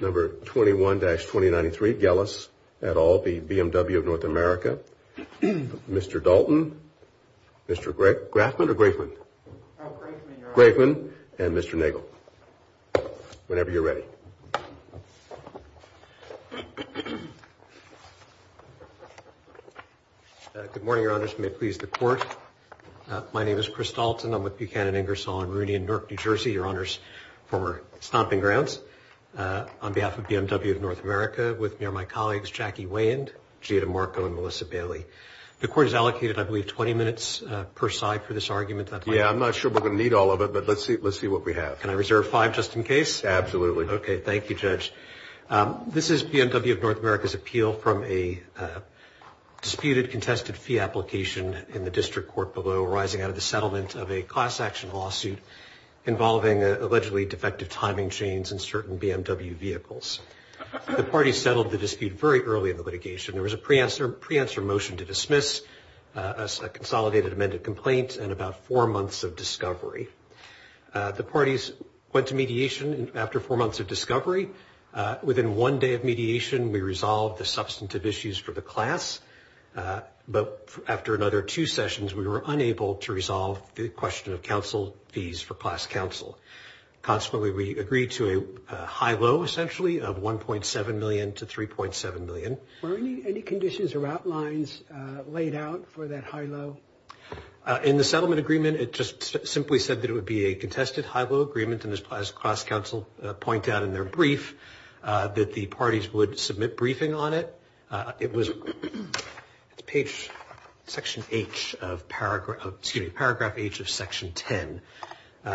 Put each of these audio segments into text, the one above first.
Number 21-2093, Gellis, et al., the BMW of North America, Mr. Dalton, Mr. Grafman or Grafman? Grafman, and Mr. Nagel, whenever you're ready. Good morning, Your Honors. May it please the Court. My name is Chris Dalton. I'm with Buchanan, Ingersoll & Rooney in Newark, New Jersey. Your Honors, former stomping grounds. On behalf of BMW of North America, with me are my colleagues Jackie Wayand, Gita Marco, and Melissa Bailey. The Court has allocated, I believe, 20 minutes per side for this argument. Yeah, I'm not sure we're going to need all of it, but let's see what we have. Can I reserve five just in case? Absolutely. Okay, thank you, Judge. This is BMW of North America's appeal from a disputed contested fee application in the district court below, arising out of the settlement of a class action lawsuit involving allegedly defective timing chains in certain BMW vehicles. The parties settled the dispute very early in the litigation. There was a pre-answer motion to dismiss, a consolidated amended complaint, and about four months of discovery. The parties went to mediation after four months of discovery. Within one day of mediation, we resolved the substantive issues for the class. But after another two sessions, we were unable to resolve the question of counsel fees for class counsel. Consequently, we agreed to a high-low, essentially, of $1.7 million to $3.7 million. Were any conditions or outlines laid out for that high-low? In the settlement agreement, it just simply said that it would be a contested high-low agreement, and as class counsel point out in their brief, that the parties would submit briefing on it. It was page section H of paragraph, excuse me, paragraph H of section 10,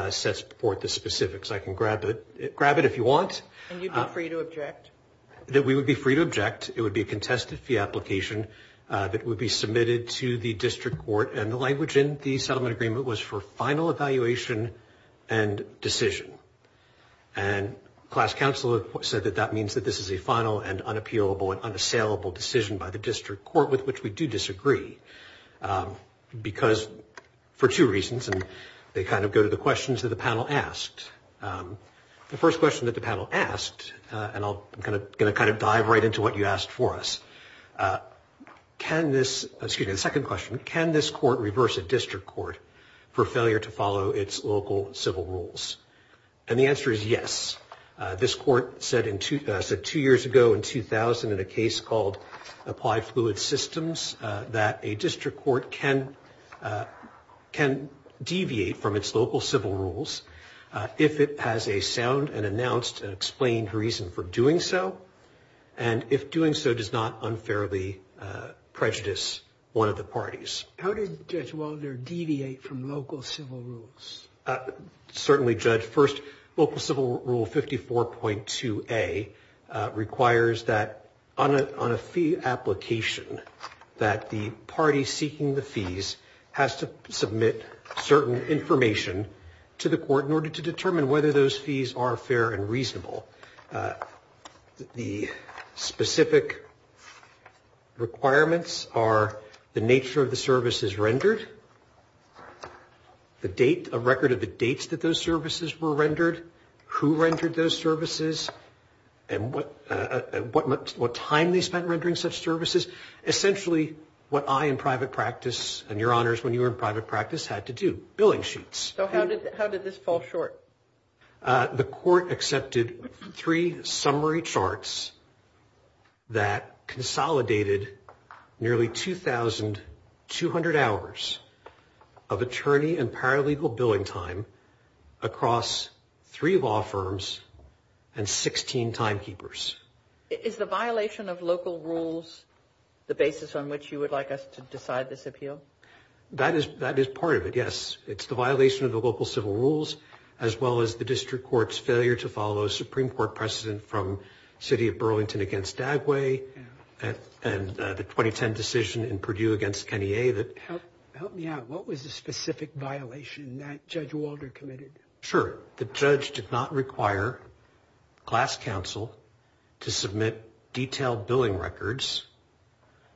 sets forth the specifics. I can grab it. Grab it if you want. And you'd be free to object? We would be free to object. It would be a contested fee application that would be submitted to the district court, and the language in the settlement agreement was for final evaluation and decision. And class counsel said that that means that this is a final and unappealable and unassailable decision by the district court, with which we do disagree, because for two reasons, and they kind of go to the questions that the panel asked. The first question that the panel asked, and I'm going to kind of dive right into what you asked for us, can this, excuse me, the second question, can this court reverse a district court for failure to follow its local civil rules? And the answer is yes. This court said two years ago, in 2000, in a case called Applied Fluid Systems, that a district court can deviate from its local civil rules if it has a sound and announced and explained reason for doing so, and if doing so does not unfairly prejudice one of the parties. How did Judge Walder deviate from local civil rules? Certainly, Judge. First, local civil rule 54.2A requires that on a fee application, that the party seeking the fees has to submit certain information to the court in order to determine whether those fees are fair and reasonable. The specific requirements are the nature of the services rendered, the date, a record of the dates that those services were rendered, who rendered those services, and what time they spent rendering such services. Essentially, what I, in private practice, and Your Honors, when you were in private practice, had to do, billing sheets. So how did this fall short? The court accepted three summary charts that consolidated nearly 2,200 hours of attorney and paralegal billing time across three law firms and 16 timekeepers. Is the violation of local rules the basis on which you would like us to decide this appeal? That is part of it, yes. It's the violation of the local civil rules as well as the district court's failure to follow Supreme Court precedent from the city of Burlington against Dagway and the 2010 decision in Purdue against Kenney A. Help me out. What was the specific violation that Judge Walder committed? Sure. The judge did not require class counsel to submit detailed billing records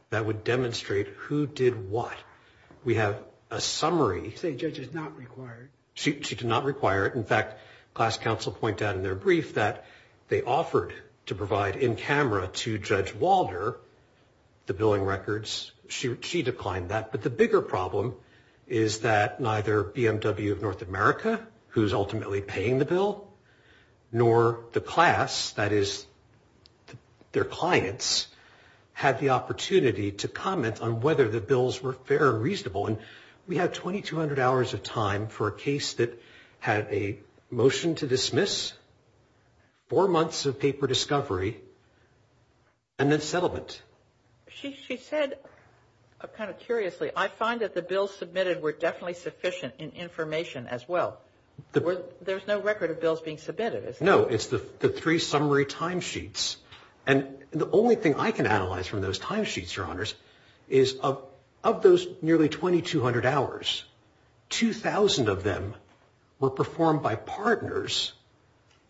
that would demonstrate who did what. We have a summary. You say the judge did not require it. She did not require it. In fact, class counsel point out in their brief that they offered to provide in camera to Judge Walder the billing records. She declined that. But the bigger problem is that neither BMW of North America, who is ultimately paying the bill, nor the class, that is their clients, had the opportunity to comment on whether the bills were fair and reasonable. And we had 2,200 hours of time for a case that had a motion to dismiss, four months of paper discovery, and then settlement. She said, kind of curiously, I find that the bills submitted were definitely sufficient in information as well. There's no record of bills being submitted, is there? No, it's the three summary timesheets. And the only thing I can analyze from those timesheets, Your Honors, is of those nearly 2,200 hours, 2,000 of them were performed by partners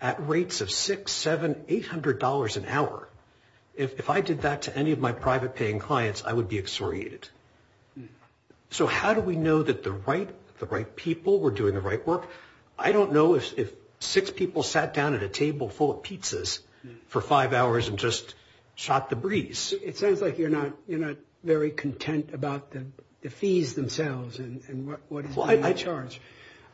at rates of $600, $700, $800 an hour. If I did that to any of my private paying clients, I would be exhoriated. So how do we know that the right people were doing the right work? I don't know if six people sat down at a table full of pizzas for five hours and just shot the breeze. It sounds like you're not very content about the fees themselves and what is being charged.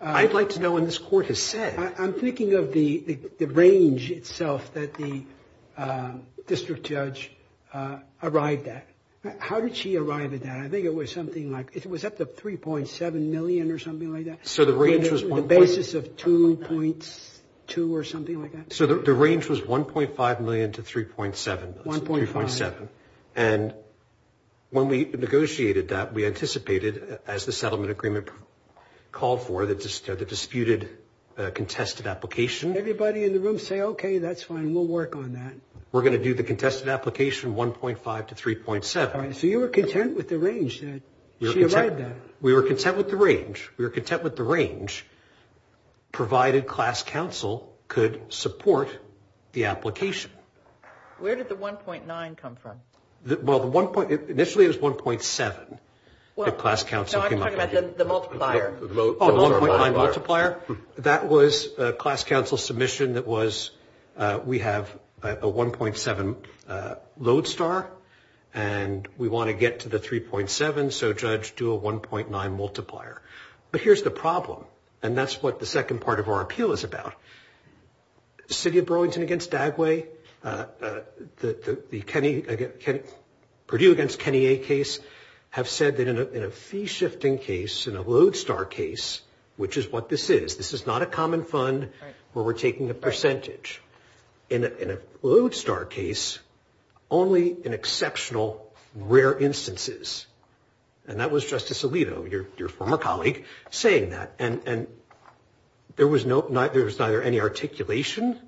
I'd like to know what this Court has said. I'm thinking of the range itself that the district judge arrived at. How did she arrive at that? I think it was something like, was that the $3.7 million or something like that? The basis of $2.2 or something like that? So the range was $1.5 million to $3.7 million. $1.5. And when we negotiated that, we anticipated, as the settlement agreement called for, the disputed contested application. Everybody in the room say, okay, that's fine, we'll work on that. We're going to do the contested application $1.5 to $3.7. So you were content with the range that she arrived at? We were content with the range. We were content with the range, provided class counsel could support the application. Where did the $1.9 come from? Well, initially it was $1.7 that class counsel came up with. No, I'm talking about the multiplier. Oh, the $1.9 multiplier? That was class counsel's submission that was, we have a $1.7 lodestar, and we want to get to the $3.7, so judge, do a $1.9 multiplier. But here's the problem, and that's what the second part of our appeal is about. City of Burlington against Dagway, the Purdue against Kenny A case have said that in a fee-shifting case, in a lodestar case, which is what this is, this is not a common fund where we're taking a percentage. In a lodestar case, only in exceptional rare instances, and that was Justice Alito, your former colleague, saying that. And there was neither any articulation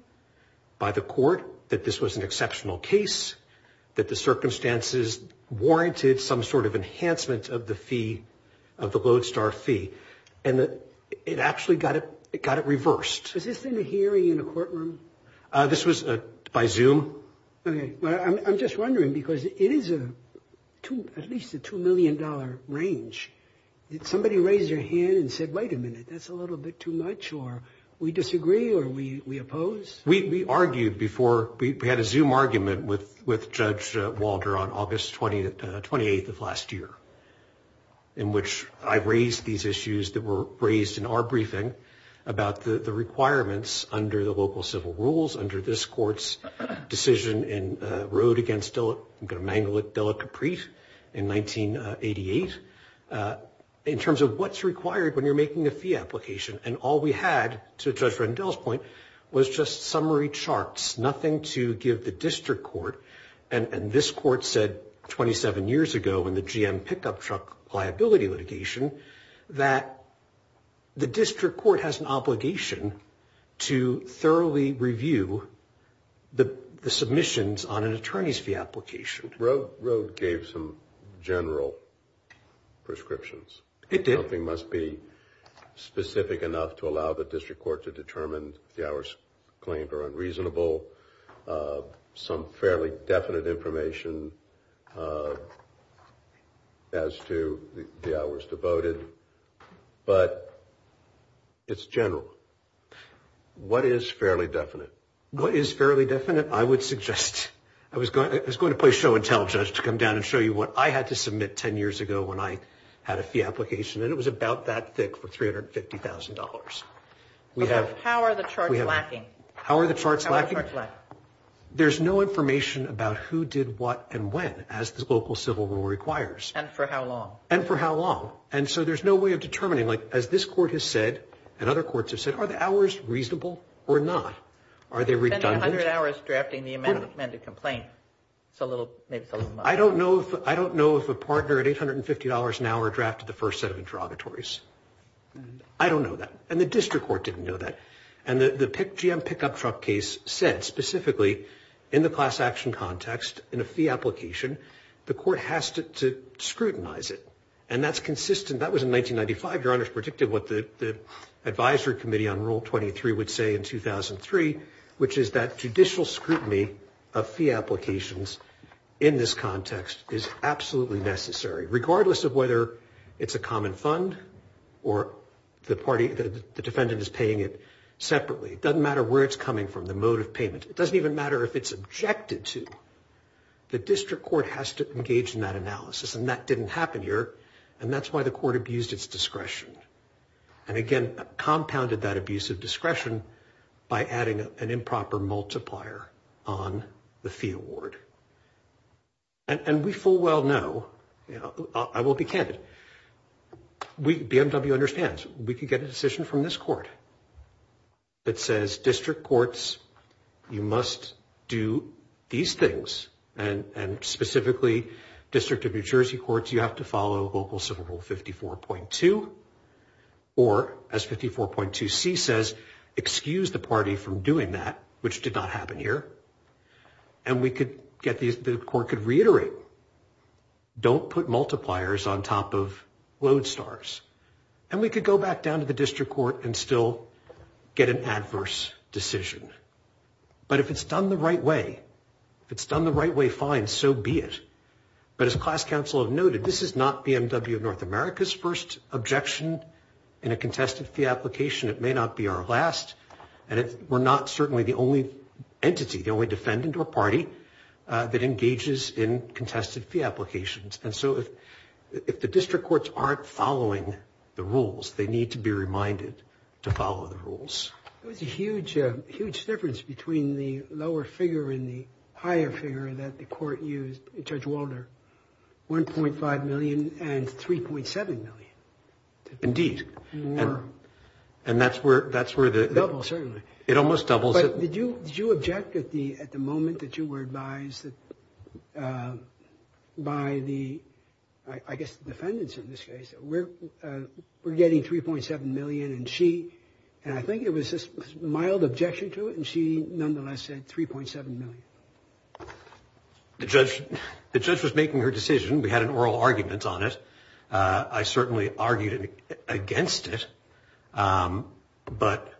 by the court that this was an exceptional case, that the circumstances warranted some sort of enhancement of the fee, of the lodestar fee. And it actually got it reversed. Was this in a hearing in a courtroom? This was by Zoom. Okay. Well, I'm just wondering because it is at least a $2 million range. Did somebody raise their hand and said, wait a minute, that's a little bit too much, or we disagree, or we oppose? We argued before. We had a Zoom argument with Judge Walter on August 28th of last year, in which I raised these issues that were raised in our briefing about the requirements under the local civil rules, under this court's decision in road against, I'm going to mangle it, Dela Capri in 1988, in terms of what's required when you're making a fee application. And all we had, to Judge Rendell's point, was just summary charts, nothing to give the district court. And this court said 27 years ago in the GM pickup truck liability litigation that the district court has an obligation to thoroughly review the submissions on an attorney's fee application. Road gave some general prescriptions. It did. Something must be specific enough to allow the district court to determine if the hours claimed are unreasonable, some fairly definite information as to the hours devoted. But it's general. What is fairly definite? What is fairly definite, I would suggest, I was going to play show and tell, Judge, to come down and show you what I had to submit 10 years ago when I had a fee application, and it was about that thick for $350,000. How are the charts lacking? How are the charts lacking? How are the charts lacking? There's no information about who did what and when, as the local civil rule requires. And for how long? And for how long. And so there's no way of determining. Like, as this court has said, and other courts have said, are the hours reasonable or not? Are they redundant? It's only 100 hours drafting the amended complaint. It's a little, maybe it's a little much. I don't know if a partner at $850 an hour drafted the first set of interrogatories. I don't know that. And the district court didn't know that. And the GM pickup truck case said, specifically, in the class action context, in a fee application, the court has to scrutinize it. And that's consistent. That was in 1995. Your Honor's predicted what the advisory committee on Rule 23 would say in 2003, which is that judicial scrutiny of fee applications in this context is absolutely necessary, regardless of whether it's a common fund or the defendant is paying it separately. It doesn't matter where it's coming from, the mode of payment. It doesn't even matter if it's objected to. The district court has to engage in that analysis. And that didn't happen here. And that's why the court abused its discretion. And, again, compounded that abuse of discretion by adding an improper multiplier on the fee award. And we full well know, I will be candid, BMW understands. We could get a decision from this court that says district courts, you must do these things. And, specifically, district of New Jersey courts, you have to follow local Civil Rule 54.2. Or, as 54.2c says, excuse the party from doing that, which did not happen here. And the court could reiterate, don't put multipliers on top of load stars. And we could go back down to the district court and still get an adverse decision. But if it's done the right way, if it's done the right way, fine, so be it. But as class counsel have noted, this is not BMW of North America's first objection in a contested fee application. It may not be our last. And we're not certainly the only entity, the only defendant or party that engages in contested fee applications. And so if the district courts aren't following the rules, they need to be reminded to follow the rules. There's a huge difference between the lower figure and the higher figure that the court used in Judge Walder, 1.5 million and 3.7 million. Indeed. And that's where the- Doubles, certainly. It almost doubles. But did you object at the moment that you were advised by the, I guess the defendants in this case, we're getting 3.7 million and she, and I think it was this mild objection to it, and she nonetheless said 3.7 million. The judge was making her decision. We had an oral argument on it. I certainly argued against it, but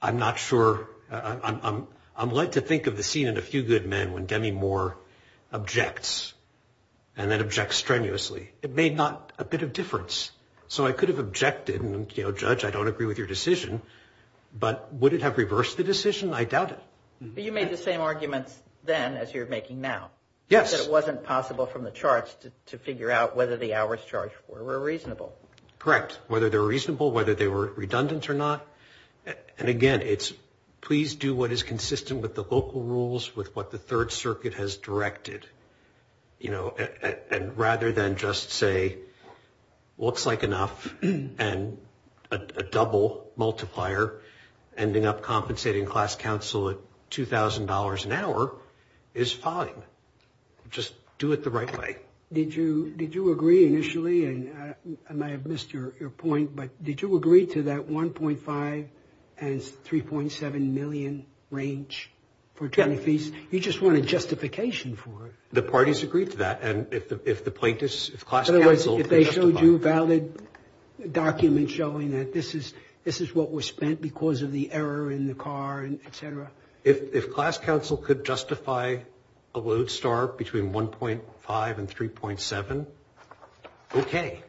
I'm not sure. I'm led to think of the scene in A Few Good Men when Demi Moore objects and then objects strenuously. It made not a bit of difference. So I could have objected and, you know, Judge, I don't agree with your decision, but would it have reversed the decision? I doubt it. But you made the same arguments then as you're making now. Yes. But it wasn't possible from the charts to figure out whether the hours charged were reasonable. Correct. Whether they were reasonable, whether they were redundant or not. And, again, it's please do what is consistent with the local rules with what the Third Circuit has directed, you know, just do it the right way. Did you agree initially? And I may have missed your point, but did you agree to that 1.5 and 3.7 million range for 20 fees? Yes. You just wanted justification for it. The parties agreed to that. And if the plaintiffs, if class counsel could justify. If they showed you valid documents showing that this is what was spent because of the error in the car and et cetera. If class counsel could justify a load start between 1.5 and 3.7. OK.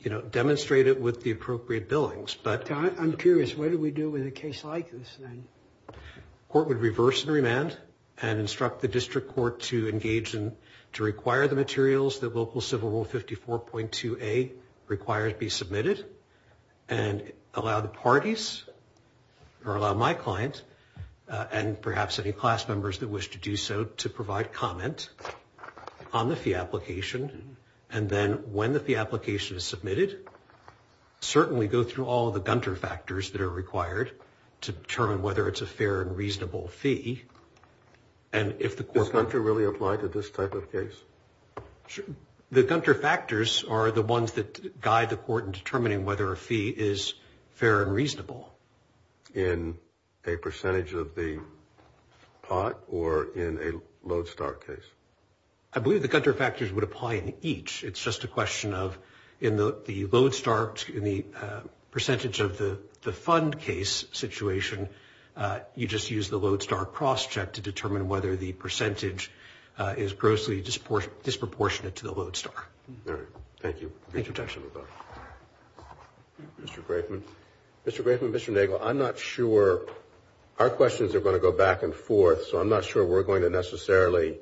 You know, demonstrate it with the appropriate billings. But I'm curious. What do we do with a case like this? Court would reverse the remand and instruct the district court to engage in to require the materials that local Civil War 54.2 a requires be submitted. And allow the parties or allow my client and perhaps any class members that wish to do so to provide comment on the fee application. And then when the fee application is submitted, certainly go through all the Gunter factors that are required to determine whether it's a fair and reasonable fee. And if the court. Does Gunter really apply to this type of case? The Gunter factors are the ones that guide the court in determining whether a fee is fair and reasonable. In a percentage of the pot or in a load start case. I believe the Gunter factors would apply in each. It's just a question of in the load start in the percentage of the fund case situation. You just use the load star cross check to determine whether the percentage is grossly disproportionate to the load star. Thank you. Thank you. Mr. Grafman. Mr. Grafman. I'm not sure. Our questions are going to go back and forth. So I'm not sure we're going to necessarily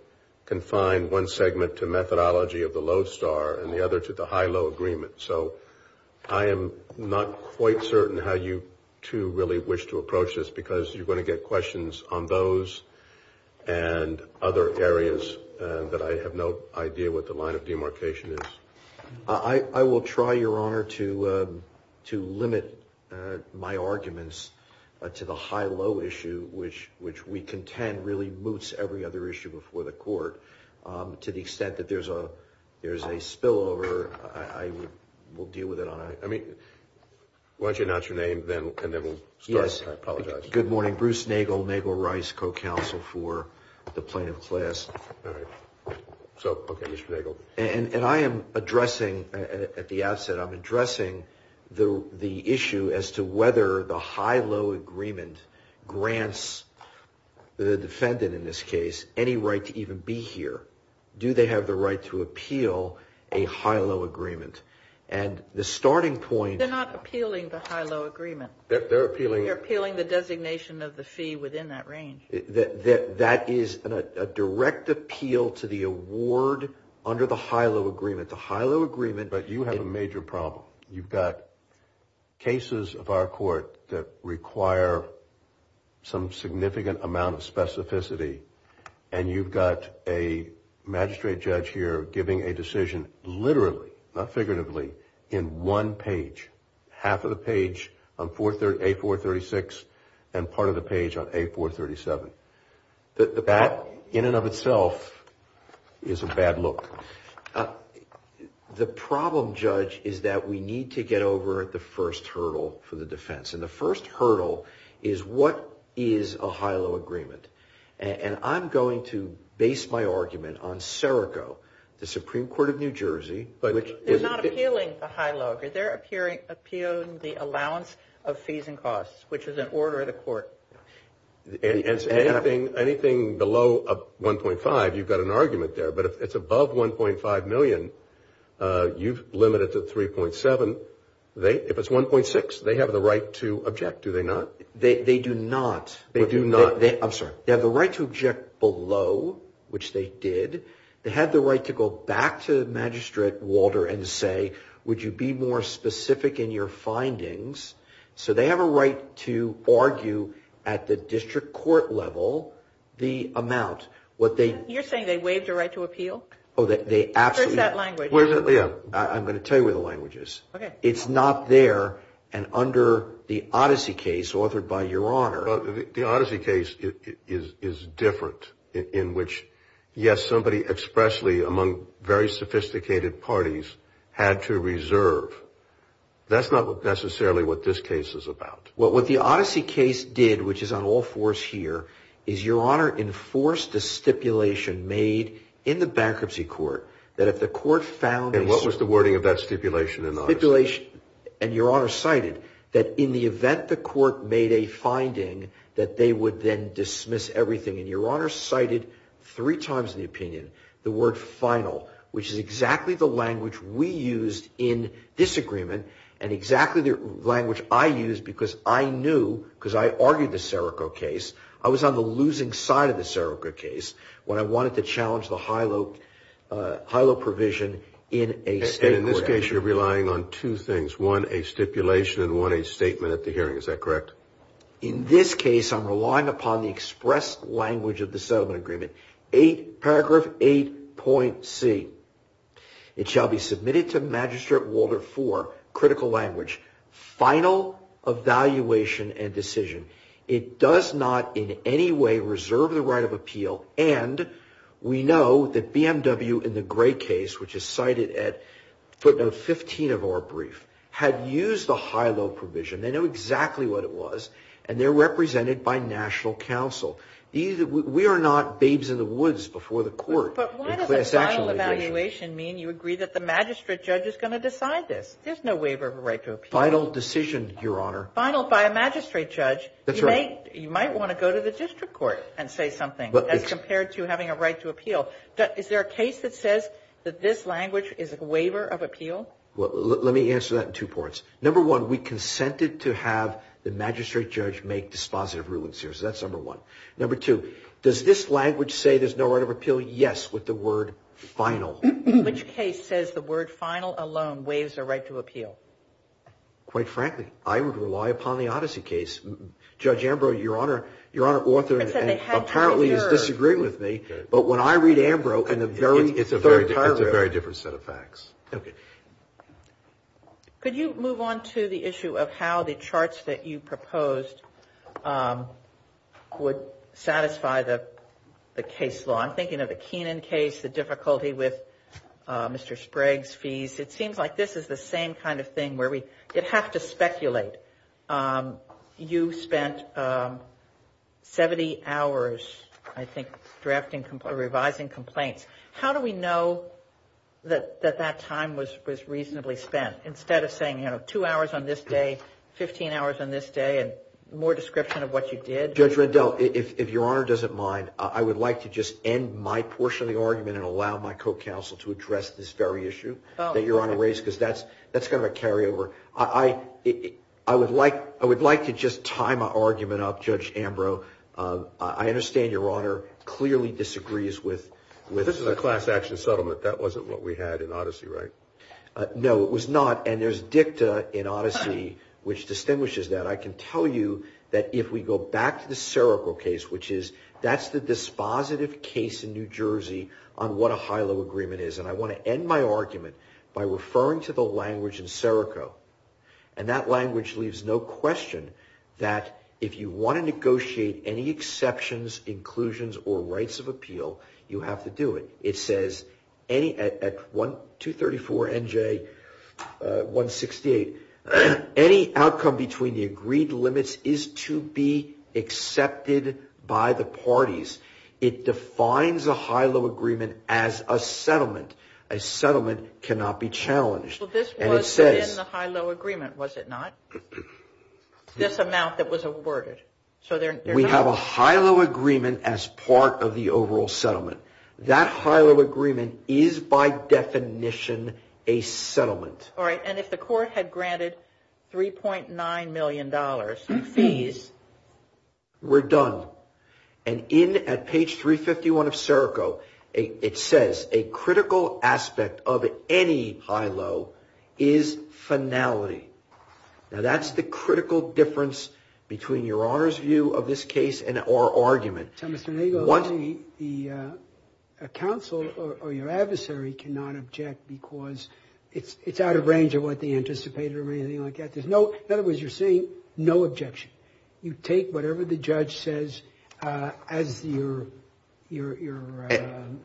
confine one segment to methodology of the load star and the other to the high low agreement. So I am not quite certain how you two really wish to approach this because you're going to get questions on those. And other areas that I have no idea what the line of demarcation is. I will try, Your Honor, to limit my arguments to the high low issue, which we contend really moots every other issue before the court. To the extent that there's a spillover, I will deal with it. I mean, why don't you announce your name and then we'll start. Yes. I apologize. Good morning. Bruce Nagel, Nagel Rice, co-counsel for the plaintiff class. All right. So, okay, Mr. Nagel. And I am addressing at the outset, I'm addressing the issue as to whether the high low agreement grants the defendant in this case any right to even be here. Do they have the right to appeal a high low agreement? And the starting point. They're not appealing the high low agreement. They're appealing. They're appealing the designation of the fee within that range. That is a direct appeal to the award under the high low agreement. The high low agreement. But you have a major problem. You've got cases of our court that require some significant amount of specificity. And you've got a magistrate judge here giving a decision literally, not figuratively, in one page. Half of the page on A436 and part of the page on A437. That, in and of itself, is a bad look. The problem, Judge, is that we need to get over the first hurdle for the defense. And the first hurdle is what is a high low agreement? And I'm going to base my argument on Sereco, the Supreme Court of New Jersey. They're not appealing the high low agreement. They're appealing the allowance of fees and costs, which is an order of the court. Anything below 1.5, you've got an argument there. But if it's above 1.5 million, you've limited it to 3.7. If it's 1.6, they have the right to object, do they not? They do not. They do not. I'm sorry. They have the right to object below, which they did. They have the right to go back to Magistrate Walter and say, would you be more specific in your findings? So they have a right to argue at the district court level the amount. You're saying they waived a right to appeal? Oh, they absolutely. Where's that language? I'm going to tell you where the language is. Okay. It's not there and under the Odyssey case authored by Your Honor. The Odyssey case is different in which, yes, somebody expressly among very sophisticated parties had to reserve. That's not necessarily what this case is about. Well, what the Odyssey case did, which is on all fours here, is Your Honor enforced a stipulation made in the bankruptcy court that if the court found a And what was the wording of that stipulation in the Odyssey? Stipulation. And Your Honor cited that in the event the court made a finding that they would then dismiss everything. And Your Honor cited three times in the opinion the word final, which is exactly the language we used in disagreement and exactly the language I used because I knew, because I argued the Serico case, I was on the losing side of the Serico case when I wanted to challenge the HILO provision in a state court action. And in this case, you're relying on two things, one a stipulation and one a statement at the hearing. Is that correct? In this case, I'm relying upon the expressed language of the settlement agreement, paragraph 8.C. It shall be submitted to Magistrate Walter for critical language, final evaluation and decision. It does not in any way reserve the right of appeal. And we know that BMW in the Gray case, which is cited at footnote 15 of our brief, had used the HILO provision. They know exactly what it was, and they're represented by national counsel. We are not babes in the woods before the court. But why does a final evaluation mean you agree that the magistrate judge is going to decide this? There's no waiver of a right to appeal. Final decision, Your Honor. Final by a magistrate judge. That's right. You might want to go to the district court and say something as compared to having a right to appeal. Is there a case that says that this language is a waiver of appeal? Let me answer that in two parts. Number one, we consented to have the magistrate judge make dispositive rulings here. So that's number one. Number two, does this language say there's no right of appeal? Yes, with the word final. Which case says the word final alone waives a right to appeal? Quite frankly, I would rely upon the Odyssey case. Judge Ambrose, Your Honor, author apparently is disagreeing with me. But when I read Ambrose in the very third paragraph. It's a very different set of facts. Okay. Could you move on to the issue of how the charts that you proposed would satisfy the case law? I'm thinking of the Keenan case, the difficulty with Mr. Sprague's fees. It seems like this is the same kind of thing where we have to speculate. You spent 70 hours, I think, revising complaints. How do we know that that time was reasonably spent? Instead of saying, you know, two hours on this day, 15 hours on this day, and more description of what you did. Judge Rendell, if Your Honor doesn't mind, I would like to just end my portion of the argument and allow my co-counsel to address this very issue that Your Honor raised because that's kind of a carryover. I would like to just tie my argument up, Judge Ambrose. I understand Your Honor clearly disagrees with… This is a class action settlement. That wasn't what we had in Odyssey, right? No, it was not. And there's dicta in Odyssey which distinguishes that. I can tell you that if we go back to the Serico case, which is, that's the dispositive case in New Jersey on what a high-low agreement is. And I want to end my argument by referring to the language in Serico. And that language leaves no question that if you want to negotiate any exceptions, inclusions, or rights of appeal, you have to do it. It says at 234 NJ 168, any outcome between the agreed limits is to be accepted by the parties. It defines a high-low agreement as a settlement. A settlement cannot be challenged. Well, this was in the high-low agreement, was it not? This amount that was awarded. We have a high-low agreement as part of the overall settlement. That high-low agreement is by definition a settlement. All right, and if the court had granted $3.9 million in fees… We're done. And in, at page 351 of Serico, it says a critical aspect of any high-low is finality. Now, that's the critical difference between Your Honor's view of this case and our argument. So, Mr. Nagle, the counsel or your adversary cannot object because it's out of range of what they anticipated or anything like that. In other words, you're saying no objection. You take whatever the judge says as your damages.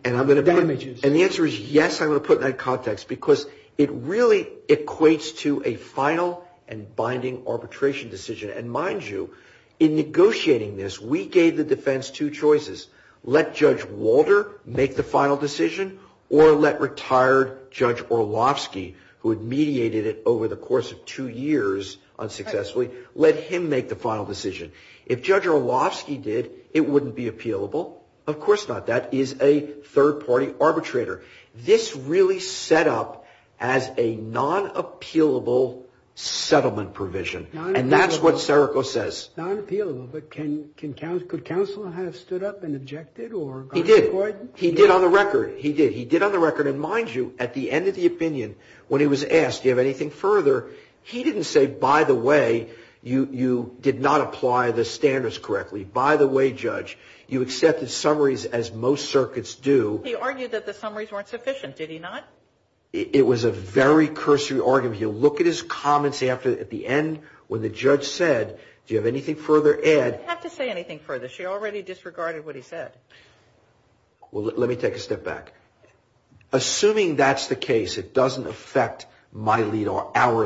And the answer is yes, I'm going to put that in context because it really equates to a final and binding arbitration decision. And mind you, in negotiating this, we gave the defense two choices. Let Judge Walter make the final decision or let retired Judge Orlovsky, who had mediated it over the course of two years unsuccessfully, let him make the final decision. If Judge Orlovsky did, it wouldn't be appealable. Of course not. That is a third-party arbitrator. This really set up as a non-appealable settlement provision. Non-appealable. And that's what Serico says. Non-appealable. But could counsel have stood up and objected or gone to court? He did. He did on the record. He did. He did on the record. And mind you, at the end of the opinion, when he was asked, do you have anything further, he didn't say, by the way, you did not apply the standards correctly. By the way, Judge, you accepted summaries as most circuits do. He argued that the summaries weren't sufficient. Did he not? It was a very cursory argument. You look at his comments at the end when the judge said, do you have anything further, Ed? You don't have to say anything further. She already disregarded what he said. Well, let me take a step back. Assuming that's the case, it doesn't affect our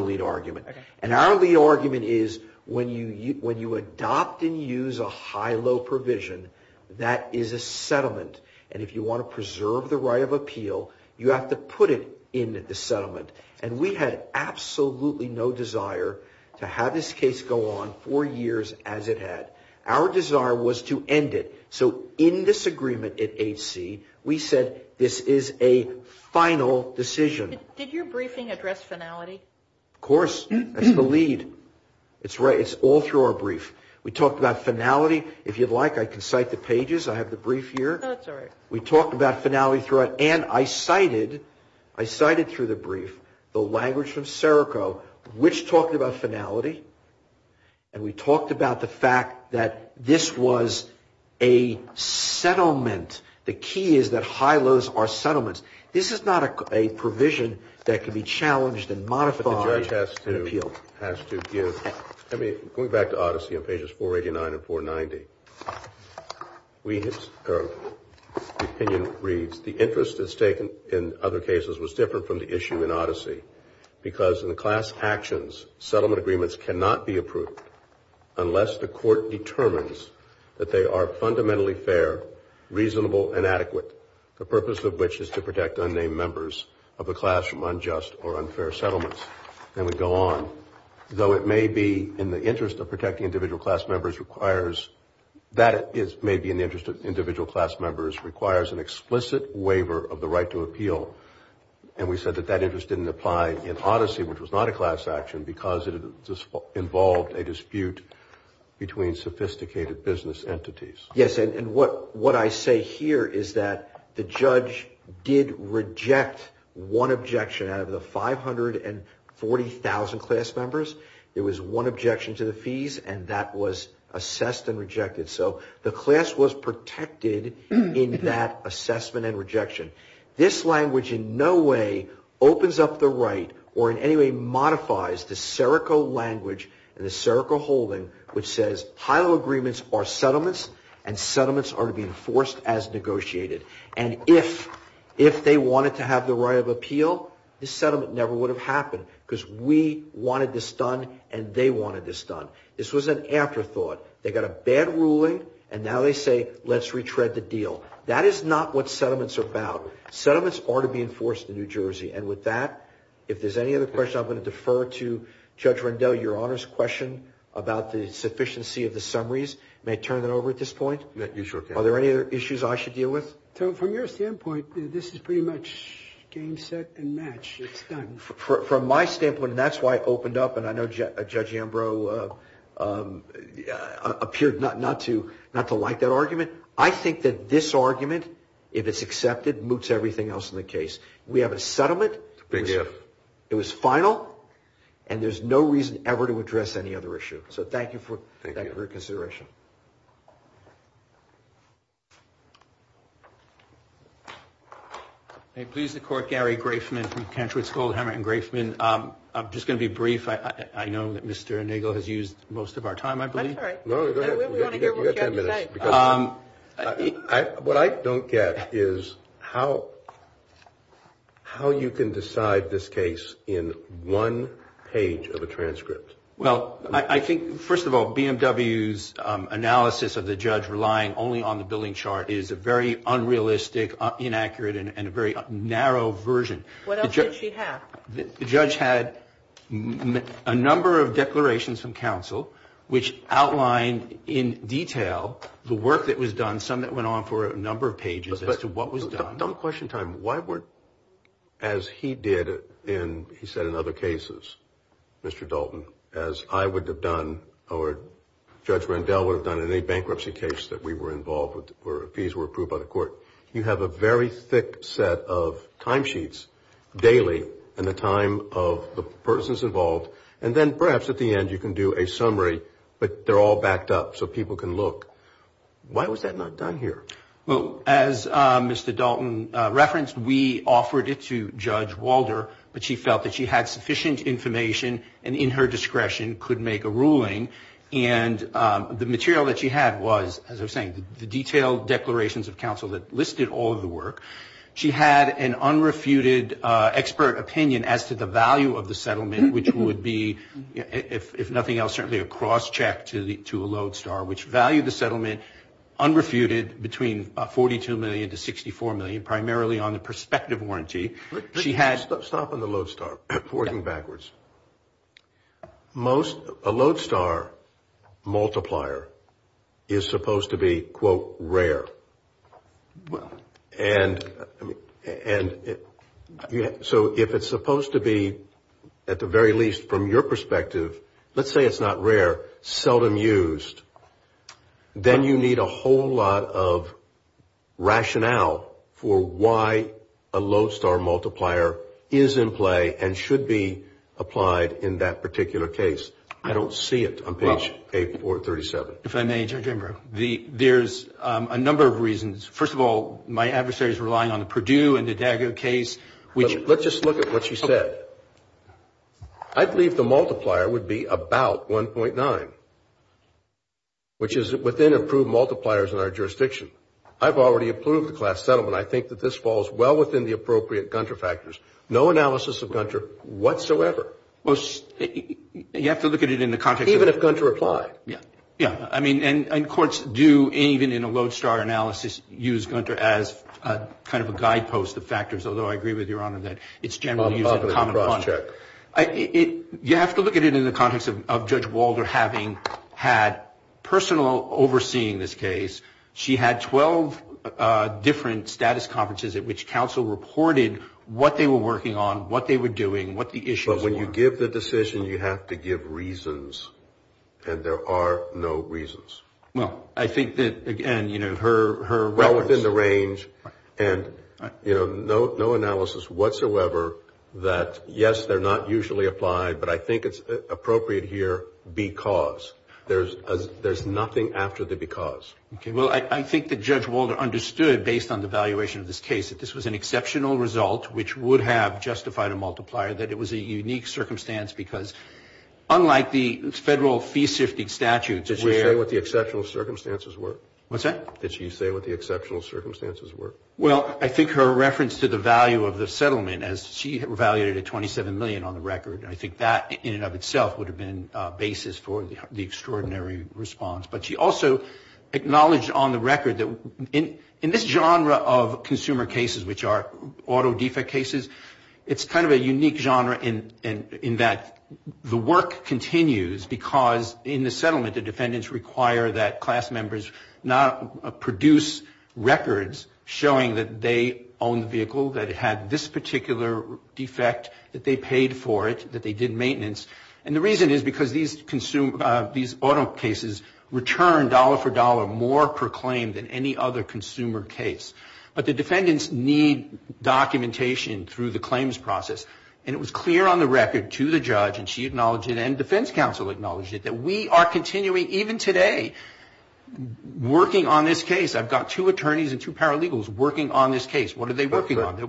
lead argument. And our lead argument is when you adopt and use a high-low provision, that is a settlement. And if you want to preserve the right of appeal, you have to put it in the settlement. And we had absolutely no desire to have this case go on for years as it had. Our desire was to end it. So in disagreement at HC, we said this is a final decision. Did your briefing address finality? Of course. That's the lead. It's right. It's all through our brief. We talked about finality. If you'd like, I can cite the pages. I have the brief here. Oh, that's all right. We talked about finality throughout. And I cited through the brief the language from Serico, which talked about finality. And we talked about the fact that this was a settlement. The key is that high lows are settlements. This is not a provision that can be challenged and modified. But the judge has to give. Going back to Odyssey on pages 489 and 490, the opinion reads, the interest that's taken in other cases was different from the issue in Odyssey because in class actions, settlement agreements cannot be approved unless the court determines that they are fundamentally fair, reasonable, and adequate, the purpose of which is to protect unnamed members of a class from unjust or unfair settlements. And we go on. Though it may be in the interest of protecting individual class members requires an explicit waiver of the right to appeal. And we said that that interest didn't apply in Odyssey, which was not a class action, because it involved a dispute between sophisticated business entities. Yes, and what I say here is that the judge did reject one objection out of the 540,000 class members. There was one objection to the fees, and that was assessed and rejected. So the class was protected in that assessment and rejection. This language in no way opens up the right or in any way modifies the SERCO language and the SERCO holding, which says, HILO agreements are settlements, and settlements are to be enforced as negotiated. And if they wanted to have the right of appeal, the settlement never would have happened, because we wanted this done, and they wanted this done. This was an afterthought. They got a bad ruling, and now they say, let's retread the deal. That is not what settlements are about. Settlements are to be enforced in New Jersey. And with that, if there's any other questions, I'm going to defer to Judge Rendell. Your Honor's question about the sufficiency of the summaries, may I turn that over at this point? You sure can. Are there any other issues I should deal with? From your standpoint, this is pretty much game, set, and match. It's done. From my standpoint, and that's why I opened up, and I know Judge Ambrose appeared not to like that argument. I think that this argument, if it's accepted, moots everything else in the case. We have a settlement. It was final, and there's no reason ever to address any other issue. So thank you for your consideration. Thank you. May it please the Court, Gary Grafman from Cantry School, Hamilton Grafman. I'm just going to be brief. I know that Mr. Nagle has used most of our time, I believe. That's all right. What I don't get is how you can decide this case in one page of a transcript. Well, I think, first of all, BMW's analysis of the judge relying only on the billing chart is a very unrealistic, inaccurate, and a very narrow version. What else did she have? The judge had a number of declarations from counsel which outlined in detail the work that was done, some that went on for a number of pages, as to what was done. Don't question time. Why weren't, as he did in, he said in other cases, Mr. Dalton, as I would have done, or Judge Rendell would have done in any bankruptcy case that we were involved with, where fees were approved by the court, you have a very thick set of timesheets, daily, and the time of the persons involved, and then perhaps at the end you can do a summary, but they're all backed up so people can look. Why was that not done here? Well, as Mr. Dalton referenced, we offered it to Judge Walder, but she felt that she had sufficient information, and in her discretion could make a ruling. And the material that she had was, as I was saying, the detailed declarations of counsel that listed all of the work. She had an unrefuted expert opinion as to the value of the settlement, which would be, if nothing else, certainly a cross-check to a Lodestar, which valued the settlement unrefuted between $42 million to $64 million, primarily on the prospective warranty. Stop on the Lodestar, forward and backwards. A Lodestar multiplier is supposed to be, quote, rare. So if it's supposed to be, at the very least from your perspective, let's say it's not rare, seldom used, then you need a whole lot of rationale for why a Lodestar multiplier is in play and should be applied in that particular case. I don't see it on page 8-437. If I may, Judge Embrough, there's a number of reasons. First of all, my adversary is relying on the Purdue and the D'Addago case. Let's just look at what she said. I believe the multiplier would be about 1.9. Which is within approved multipliers in our jurisdiction. I've already approved the class settlement. I think that this falls well within the appropriate Gunter factors. No analysis of Gunter whatsoever. Well, you have to look at it in the context of it. Even if Gunter applied. Yeah. Yeah. I mean, and courts do, even in a Lodestar analysis, use Gunter as kind of a guidepost of factors, although I agree with Your Honor that it's generally used in a common bond. You have to look at it in the context of Judge Walder having had personal overseeing this case. She had 12 different status conferences at which counsel reported what they were working on, what they were doing, what the issues were. But when you give the decision, you have to give reasons. And there are no reasons. Well, I think that, again, you know, her reference. And, you know, no analysis whatsoever that, yes, they're not usually applied, but I think it's appropriate here because. There's nothing after the because. Okay. Well, I think that Judge Walder understood, based on the valuation of this case, that this was an exceptional result which would have justified a multiplier, that it was a unique circumstance because, unlike the federal fee-shifting statutes. Did she say what the exceptional circumstances were? What's that? Did she say what the exceptional circumstances were? Well, I think her reference to the value of the settlement, as she evaluated at $27 million on the record, and I think that in and of itself would have been a basis for the extraordinary response. But she also acknowledged on the record that in this genre of consumer cases, which are auto defect cases, it's kind of a unique genre in that the work continues because in the settlement the defendants require that class members produce records showing that they own the vehicle, that it had this particular defect, that they paid for it, that they did maintenance. And the reason is because these auto cases return dollar for dollar more per claim than any other consumer case. But the defendants need documentation through the claims process. And it was clear on the record to the judge, and she acknowledged it and defense counsel acknowledged it, that we are continuing even today working on this case. I've got two attorneys and two paralegals working on this case. What are they working on?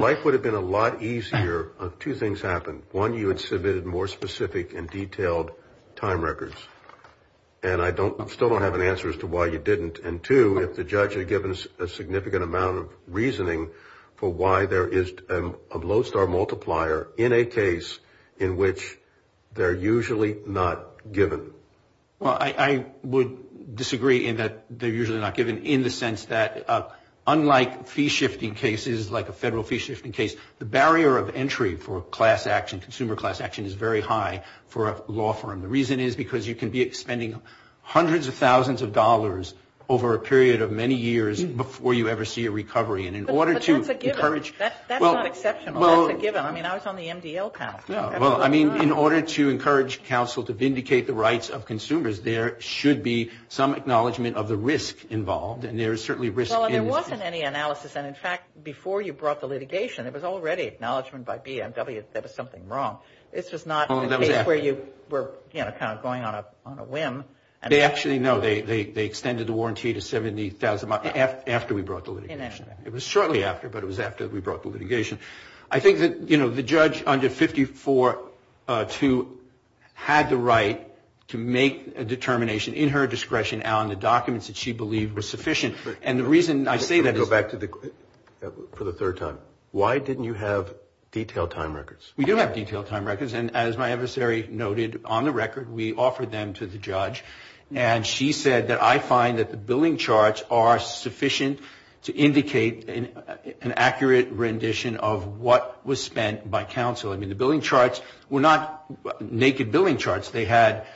Life would have been a lot easier if two things happened. One, you had submitted more specific and detailed time records, and I still don't have an answer as to why you didn't. And two, if the judge had given a significant amount of reasoning for why there is a lodestar multiplier in a case in which they're usually not given. Well, I would disagree in that they're usually not given in the sense that unlike fee-shifting cases like a federal fee-shifting case, the barrier of entry for class action, consumer class action is very high for a law firm. The reason is because you can be spending hundreds of thousands of dollars over a period of many years before you ever see a recovery. But that's a given. That's not exceptional. That's a given. I mean, I was on the MDL panel. Well, I mean, in order to encourage counsel to vindicate the rights of consumers, there should be some acknowledgement of the risk involved, and there is certainly risk. Well, and there wasn't any analysis. And, in fact, before you brought the litigation, it was already acknowledgement by BMW that there was something wrong. This was not a case where you were, you know, kind of going on a whim. Actually, no, they extended the warranty to 70,000 after we brought the litigation. It was shortly after, but it was after we brought the litigation. I think that, you know, the judge under 54-2 had the right to make a determination in her discretion on the documents that she believed were sufficient. And the reason I say that is. Go back for the third time. Why didn't you have detailed time records? We do have detailed time records. And as my adversary noted on the record, we offered them to the judge. And she said that I find that the billing charts are sufficient to indicate an accurate rendition of what was spent by counsel. I mean, the billing charts were not naked billing charts. They had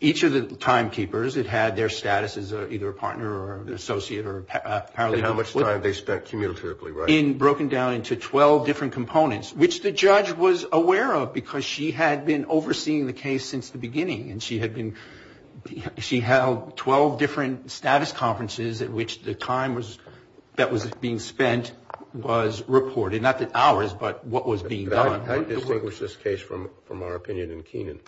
each of the timekeepers. It had their status as either a partner or an associate or a paralegal. And how much time they spent communicatively, right? Broken down into 12 different components, which the judge was aware of because she had been overseeing the case since the beginning. And she held 12 different status conferences at which the time that was being spent was reported. Not the hours, but what was being done. How do you distinguish this case from our opinion in Kenan?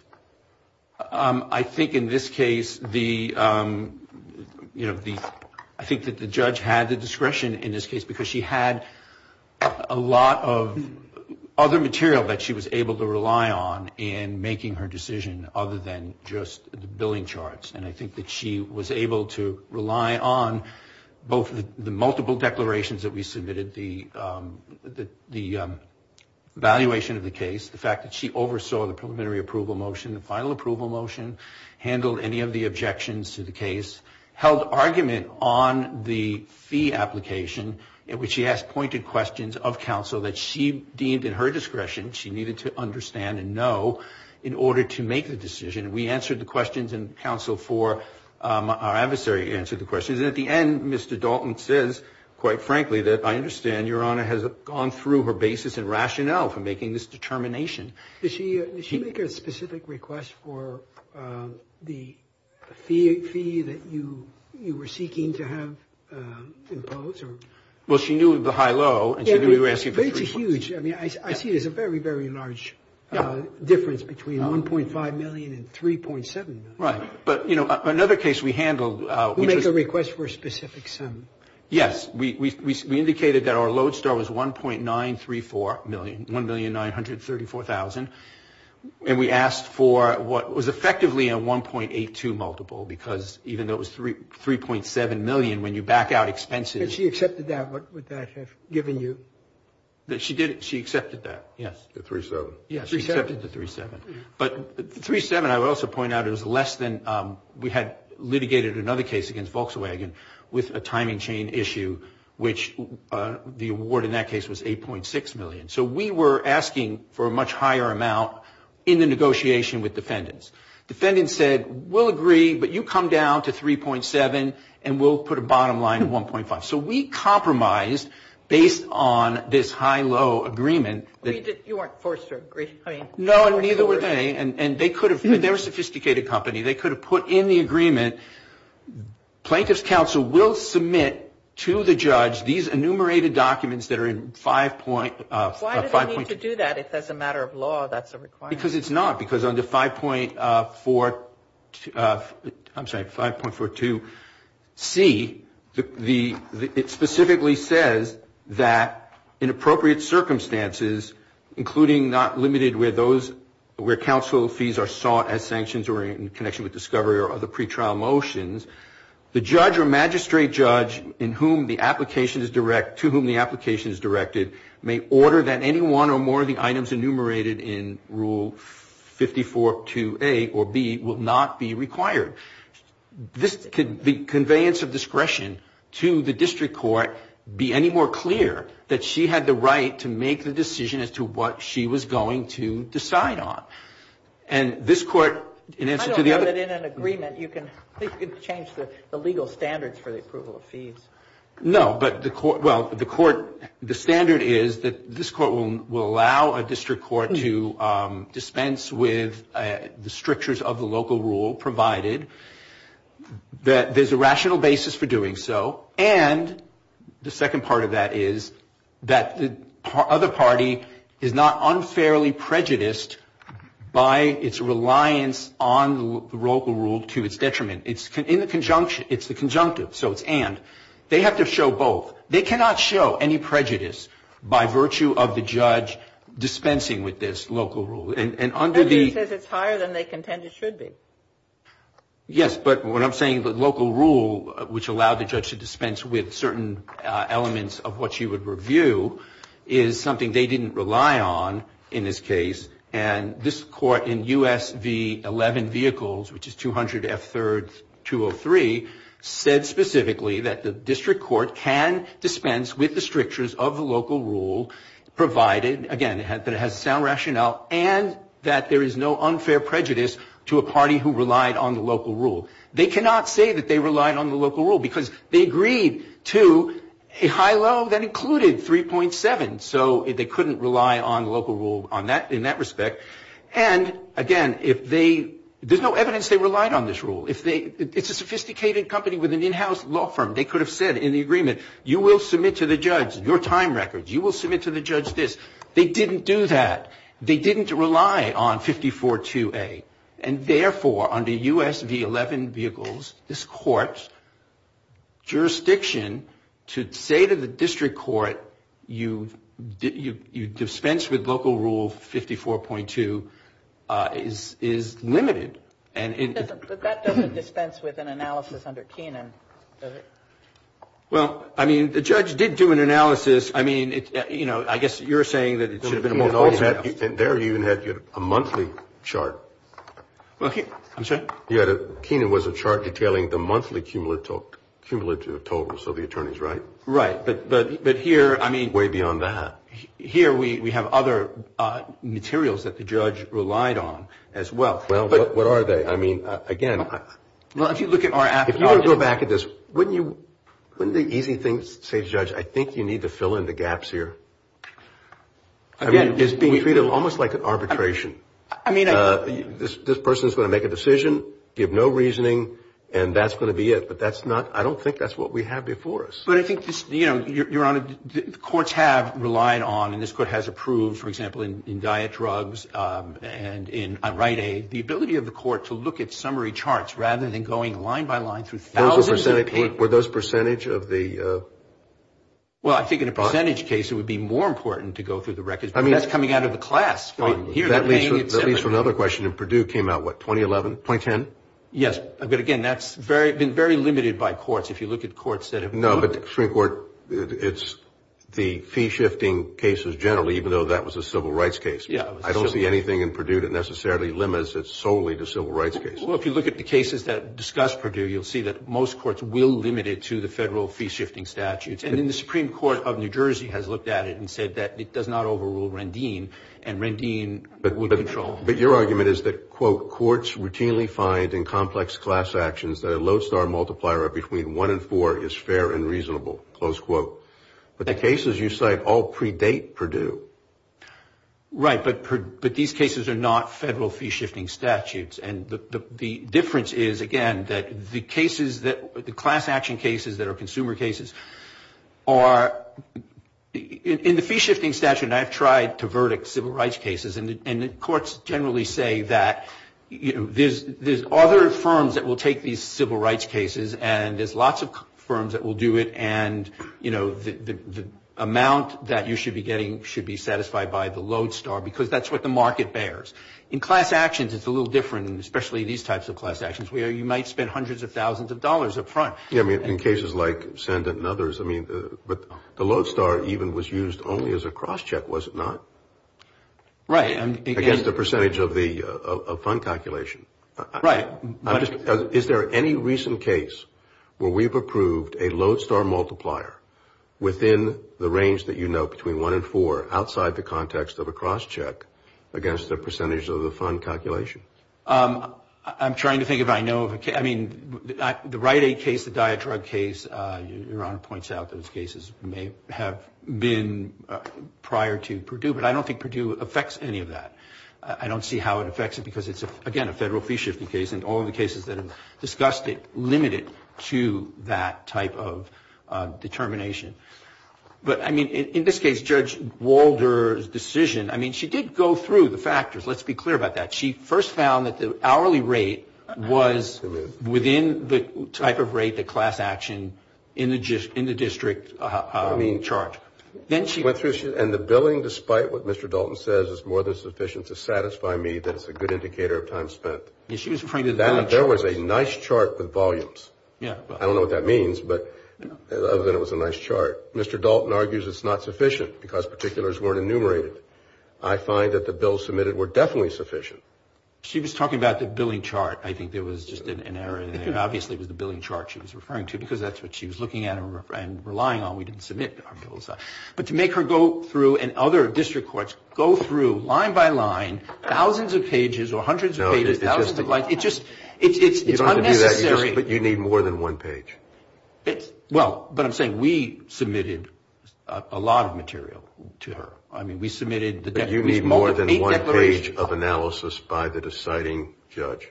I think in this case, you know, I think that the judge had the discretion in this case because she had a lot of other material that she was able to rely on in making her decision other than just the billing charts. And I think that she was able to rely on both the multiple declarations that we submitted, the evaluation of the case, the fact that she oversaw the preliminary approval motion, the final approval motion, handled any of the objections to the case, held argument on the fee application in which she asked pointed questions of counsel that she deemed in her discretion she needed to understand and know in order to make the decision. We answered the questions and counsel for our adversary answered the questions. And at the end, Mr. Dalton says, quite frankly, that I understand Your Honor has gone through her basis and rationale for making this determination. Did she make a specific request for the fee that you were seeking to have imposed? Well, she knew of the high-low. I see there's a very, very large difference between $1.5 million and $3.7 million. Right. But, you know, another case we handled. We make a request for a specific sum. Yes. We indicated that our lodestar was $1.934 million, $1,934,000. And we asked for what was effectively a 1.82 multiple because even though it was $3.7 million, when you back out expenses. If she accepted that, what would that have given you? She did. She accepted that, yes. The $3.7. Yes, she accepted the $3.7. But $3.7, I would also point out, it was less than we had litigated another case against Volkswagen with a timing chain issue, which the award in that case was $8.6 million. So we were asking for a much higher amount in the negotiation with defendants. Defendants said, we'll agree, but you come down to $3.7, and we'll put a bottom line of $1.5. So we compromised based on this high-low agreement. You weren't forced to agree. No, and neither were they. And they were a sophisticated company. They could have put in the agreement. Plaintiff's counsel will submit to the judge these enumerated documents that are in 5. Why do they need to do that if as a matter of law that's a requirement? Because it's not. Because under 5.42C, it specifically says that in appropriate circumstances, including not limited where counsel fees are sought as sanctions or in connection with discovery or other pretrial motions, the judge or magistrate judge to whom the application is directed may order that any one or more of the items enumerated in Rule 54.2A or B will not be required. Could the conveyance of discretion to the district court be any more clear that she had the right to make the decision as to what she was going to decide on? And this Court, in answer to the other question. I don't know that in an agreement you can change the legal standards for the approval of fees. No, but the Court, well, the Court, the standard is that this Court will allow a district court to dispense with the strictures of the local rule provided that there's a rational basis for doing so. And the second part of that is that the other party is not unfairly prejudiced by its reliance on the local rule to its detriment. It's in the conjunction. It's the conjunctive. So it's and. They have to show both. They cannot show any prejudice by virtue of the judge dispensing with this local rule. And under the... That's because it's higher than they contend it should be. Yes, but what I'm saying, the local rule, which allowed the judge to dispense with certain elements of what she would review, is something they didn't rely on in this case. And this Court in U.S. v. 11 Vehicles, which is 200 F. 3rd 203, said specifically that the district court can dispense with the strictures of the local rule provided, again, that it has a sound rationale and that there is no unfair prejudice to a party who relied on the local rule. They cannot say that they relied on the local rule because they agreed to a high-low that included 3.7. And so they couldn't rely on local rule in that respect. And, again, if they... There's no evidence they relied on this rule. It's a sophisticated company with an in-house law firm. They could have said in the agreement, you will submit to the judge your time records. You will submit to the judge this. They didn't do that. They didn't rely on 54.2a. And, therefore, under U.S. v. 11 Vehicles, this Court's jurisdiction to say to the district court, you dispense with local rule 54.2 is limited. But that doesn't dispense with an analysis under Kenan, does it? Well, I mean, the judge did do an analysis. I mean, you know, I guess you're saying that it should have been a monthly analysis. And there you even had a monthly chart. I'm sorry? Kenan was a chart detailing the monthly cumulative totals of the attorneys, right? Right. But here, I mean... Way beyond that. Here we have other materials that the judge relied on as well. Well, what are they? I mean, again... Well, if you look at our... If you want to go back at this, wouldn't the easy thing say to the judge, I think you need to fill in the gaps here? Again... I mean, it's being treated almost like an arbitration. I mean... This person is going to make a decision, give no reasoning, and that's going to be it. But that's not... I don't think that's what we have before us. But I think this... You know, Your Honor, the courts have relied on, and this Court has approved, for example, in diet drugs and in unright aid, the ability of the court to look at summary charts rather than going line by line through thousands of papers. Were those percentage of the... Well, I think in a percentage case, it would be more important to go through the records. I mean... But that's coming out of the class. Here... That leads to another question. And Purdue came out, what, 2011, 2010? Yes. But, again, that's been very limited by courts. If you look at courts that have... No, but the Supreme Court... It's the fee-shifting cases generally, even though that was a civil rights case. Yeah. I don't see anything in Purdue that necessarily limits it solely to civil rights cases. Well, if you look at the cases that discuss Purdue, you'll see that most courts will limit it to the federal fee-shifting statutes. And the Supreme Court of New Jersey has looked at it and said that it does not overrule Rendine, and Rendine would control. But your argument is that, quote, courts routinely find in complex class actions that a lodestar multiplier of between one and four is fair and reasonable, close quote. But the cases you cite all predate Purdue. Right, but these cases are not federal fee-shifting statutes. And the difference is, again, that the cases that, the class action cases that are consumer cases are... In the fee-shifting statute, and I've tried to verdict civil rights cases, and the courts generally say that there's other firms that will take these civil rights cases, and there's lots of firms that will do it, and, you know, the amount that you should be getting should be satisfied by the lodestar because that's what the market bears. In class actions, it's a little different, and especially these types of class actions, where you might spend hundreds of thousands of dollars up front. Yeah, I mean, in cases like Sendint and others, I mean, but the lodestar even was used only as a crosscheck, was it not? Right. Against the percentage of the fund calculation. Right. Is there any recent case where we've approved a lodestar multiplier within the range that you know, between one and four outside the context of a crosscheck against the percentage of the fund calculation? I'm trying to think if I know of a case... I mean, the Rite Aid case, the diet drug case, Your Honor points out those cases may have been prior to Purdue, but I don't think Purdue affects any of that. I don't see how it affects it because it's, again, a federal fee-shifting case, and all of the cases that have discussed it limit it to that type of determination. But, I mean, in this case, Judge Walder's decision, I mean, she did go through the factors. Let's be clear about that. She first found that the hourly rate was within the type of rate that class action in the district charged. And the billing, despite what Mr. Dalton says, is more than sufficient to satisfy me that it's a good indicator of time spent. There was a nice chart with volumes. I don't know what that means, but other than it was a nice chart. Mr. Dalton argues it's not sufficient because particulars weren't enumerated. I find that the bills submitted were definitely sufficient. She was talking about the billing chart. I think there was just an error there. Obviously, it was the billing chart she was referring to because that's what she was looking at and relying on. We didn't submit our bills. But to make her go through and other district courts go through line by line thousands of pages or hundreds of pages... More than one page. Well, but I'm saying we submitted a lot of material to her. I mean, we submitted... But you need more than one page of analysis by the deciding judge.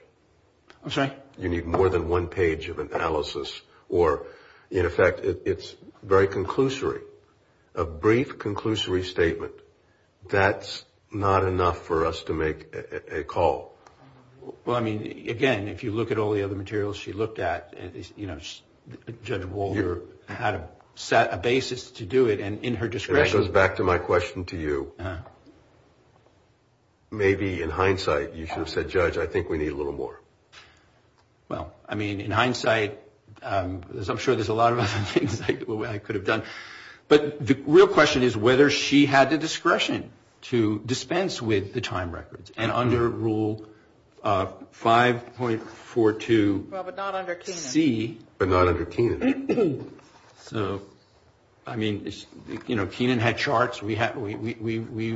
I'm sorry? You need more than one page of analysis or, in effect, it's very conclusory. A brief, conclusory statement. That's not enough for us to make a call. Well, I mean, again, if you look at all the other materials she looked at, you know, Judge Walter had a basis to do it. And in her discretion... And that goes back to my question to you. Maybe, in hindsight, you should have said, Judge, I think we need a little more. Well, I mean, in hindsight, as I'm sure there's a lot of other things I could have done. But the real question is whether she had the discretion to dispense with the time records. And under Rule 5.42C... Well, but not under Kenan. But not under Kenan. So, I mean, you know, Kenan had charts. We used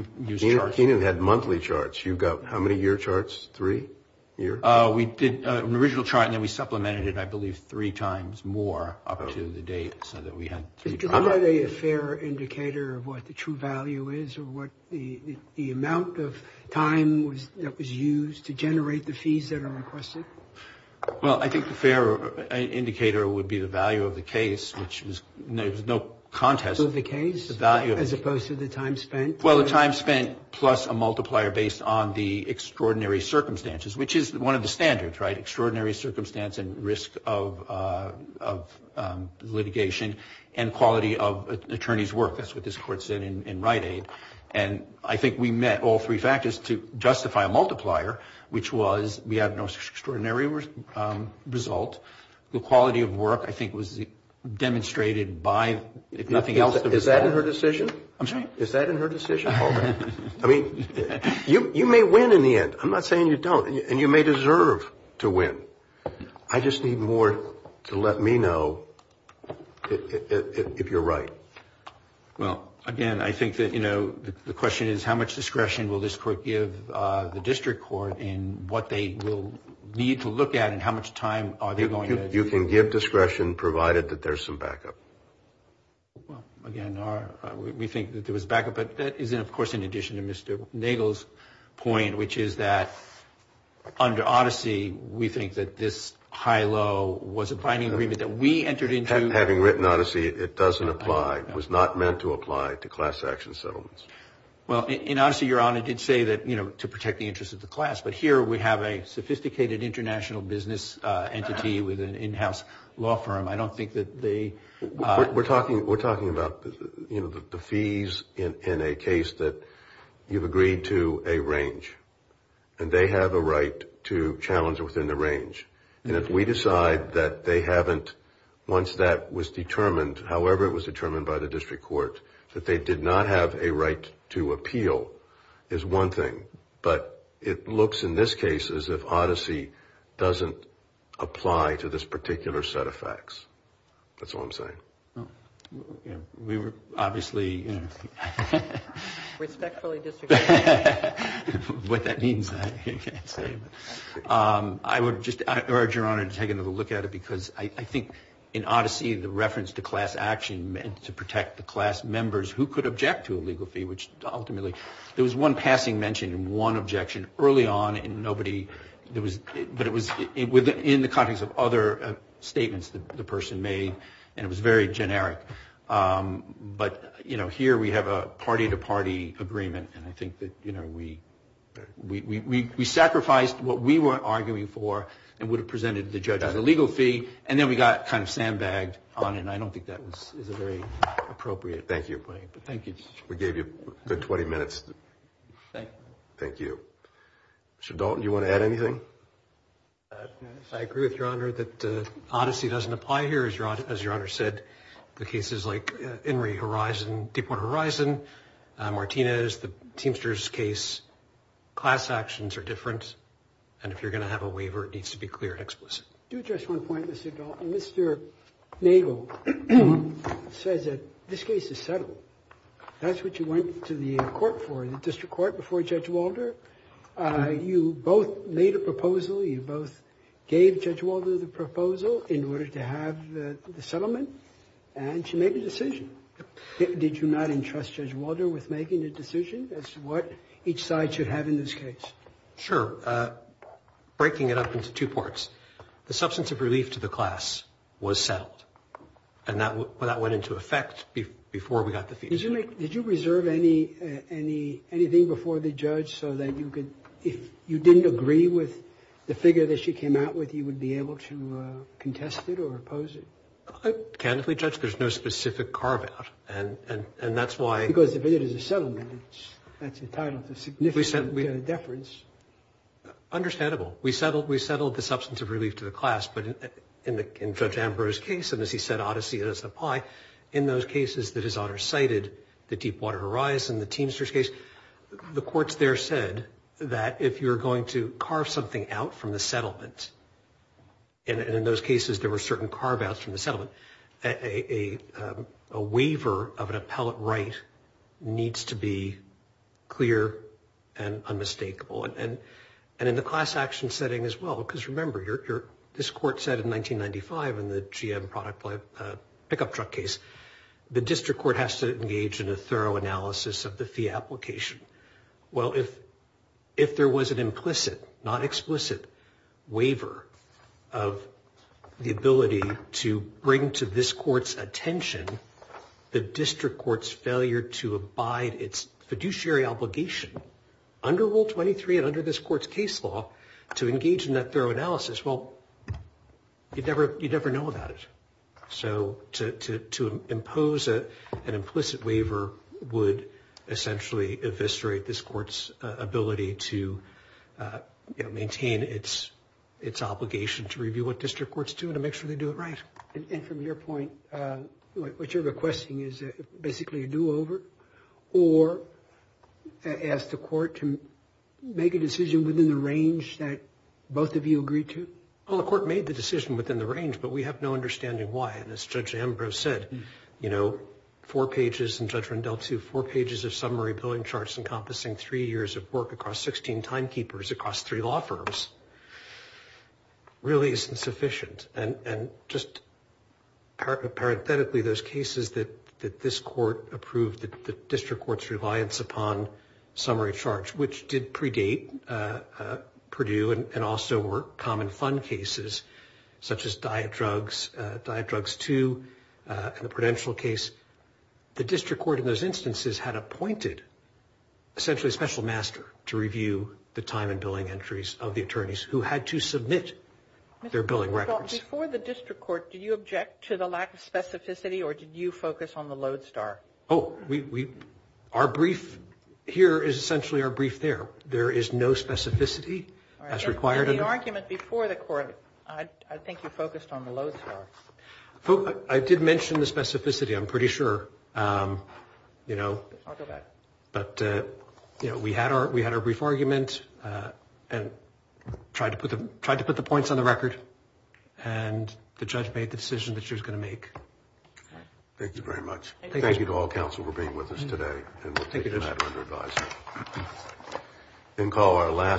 charts. Kenan had monthly charts. You've got how many year charts? Three year? We did an original chart and then we supplemented it, I believe, three times more up to the date so that we had three charts. Is it really a fair indicator of what the true value is or what the amount of time that was used to generate the fees that are requested? Well, I think the fair indicator would be the value of the case, which was no contest. The value of the case as opposed to the time spent? Well, the time spent plus a multiplier based on the extraordinary circumstances, which is one of the standards, right? of litigation and quality of attorney's work. That's what this Court said in Rite Aid. And I think we met all three factors to justify a multiplier, which was we had an extraordinary result. The quality of work, I think, was demonstrated by, if nothing else... Is that in her decision? I'm sorry? Is that in her decision? I mean, you may win in the end. I'm not saying you don't. And you may deserve to win. I just need more to let me know if you're right. Well, again, I think that, you know, the question is how much discretion will this Court give the district court in what they will need to look at and how much time are they going to... You can give discretion provided that there's some backup. Well, again, we think that there was backup, but that is, of course, in addition to Mr. Nagle's point, which is that under Odyssey, we think that this high-low was a binding agreement that we entered into... Having written Odyssey, it doesn't apply. It was not meant to apply to class action settlements. Well, in Odyssey, Your Honor did say that, you know, to protect the interests of the class. But here we have a sophisticated international business entity with an in-house law firm. I don't think that they... We're talking about, you know, the fees in a case that you've agreed to a range. And they have a right to challenge within the range. And if we decide that they haven't, once that was determined, however it was determined by the district court, that they did not have a right to appeal is one thing. But it looks in this case as if Odyssey doesn't apply to this particular set of facts. That's all I'm saying. We were obviously... Respectfully disregarding... What that means, I can't say. I would just urge Your Honor to take another look at it because I think in Odyssey, the reference to class action meant to protect the class members who could object to a legal fee, which ultimately there was one passing mention and one objection early on and nobody... But it was in the context of other statements that the person made and it was very generic. But, you know, here we have a party-to-party agreement. And I think that, you know, we sacrificed what we were arguing for and would have presented the judge as a legal fee, and then we got kind of sandbagged on it. And I don't think that was a very appropriate... Thank you. Thank you. We gave you a good 20 minutes. Thank you. Thank you. Mr. Dalton, do you want to add anything? I agree with Your Honor that Odyssey doesn't apply here, as Your Honor said. The cases like Enri Horizon, Deepwater Horizon, Martinez, the Teamsters case, class actions are different. And if you're going to have a waiver, it needs to be clear and explicit. Do just one point, Mr. Dalton. Mr. Nagel says that this case is settled. That's what you went to the court for, the district court, before Judge Walder. You both made a proposal. You both gave Judge Walder the proposal in order to have the settlement and to make a decision. Did you not entrust Judge Walder with making a decision as to what each side should have in this case? Sure. Breaking it up into two parts. The substance of relief to the class was settled. And that went into effect before we got the fee. Did you reserve anything before the judge so that you could, if you didn't agree with the figure that she came out with, you would be able to contest it or oppose it? Candidly, Judge, there's no specific carve out. And that's why. Because if it is a settlement, that's entitled to significant deference. Understandable. We settled the substance of relief to the class. But in Judge Ambrose's case, and as he said, odyssey doesn't apply, in those cases that his honor cited, the Deepwater Horizon, the Teamsters case, the courts there said that if you're going to carve something out from the settlement, and in those cases there were certain carve outs from the settlement, a waiver of an appellate right needs to be clear and unmistakable. And in the class action setting as well, because remember, this court said in 1995 in the GM pickup truck case, the district court has to engage in a thorough analysis of the fee application. Well, if there was an implicit, not explicit, waiver of the ability to bring to this court's attention the district court's failure to abide its fiduciary obligation, under Rule 23 and under this court's case law, to engage in that thorough analysis, well, you'd never know about it. So to impose an implicit waiver would essentially eviscerate this court's ability to maintain its obligation to review what district courts do and to make sure they do it right. And from your point, what you're requesting is basically a do-over or ask the court to make a decision within the range that both of you agreed to? Well, the court made the decision within the range, but we have no understanding why. And as Judge Ambrose said, you know, four pages in Judge Rendell 2, four pages of summary billing charts encompassing three years of work across 16 timekeepers across three law firms really isn't sufficient. And just parenthetically, those cases that this court approved, the district court's reliance upon summary charts, which did predate Purdue and also were common fund cases such as Diet Drugs, Diet Drugs 2, and the Prudential case, the district court in those instances had appointed essentially a special master to review the time and billing entries of the attorneys who had to submit their billing records. Before the district court, did you object to the lack of specificity or did you focus on the lodestar? Oh, our brief here is essentially our brief there. There is no specificity as required. In the argument before the court, I think you focused on the lodestar. I did mention the specificity, I'm pretty sure, you know. I'll go back. But, you know, we had our brief argument and tried to put the points on the record and the judge made the decision that she was going to make. Thank you very much. Thank you to all counsel for being with us today. And we'll take the matter under advisory. Thank you, Judge.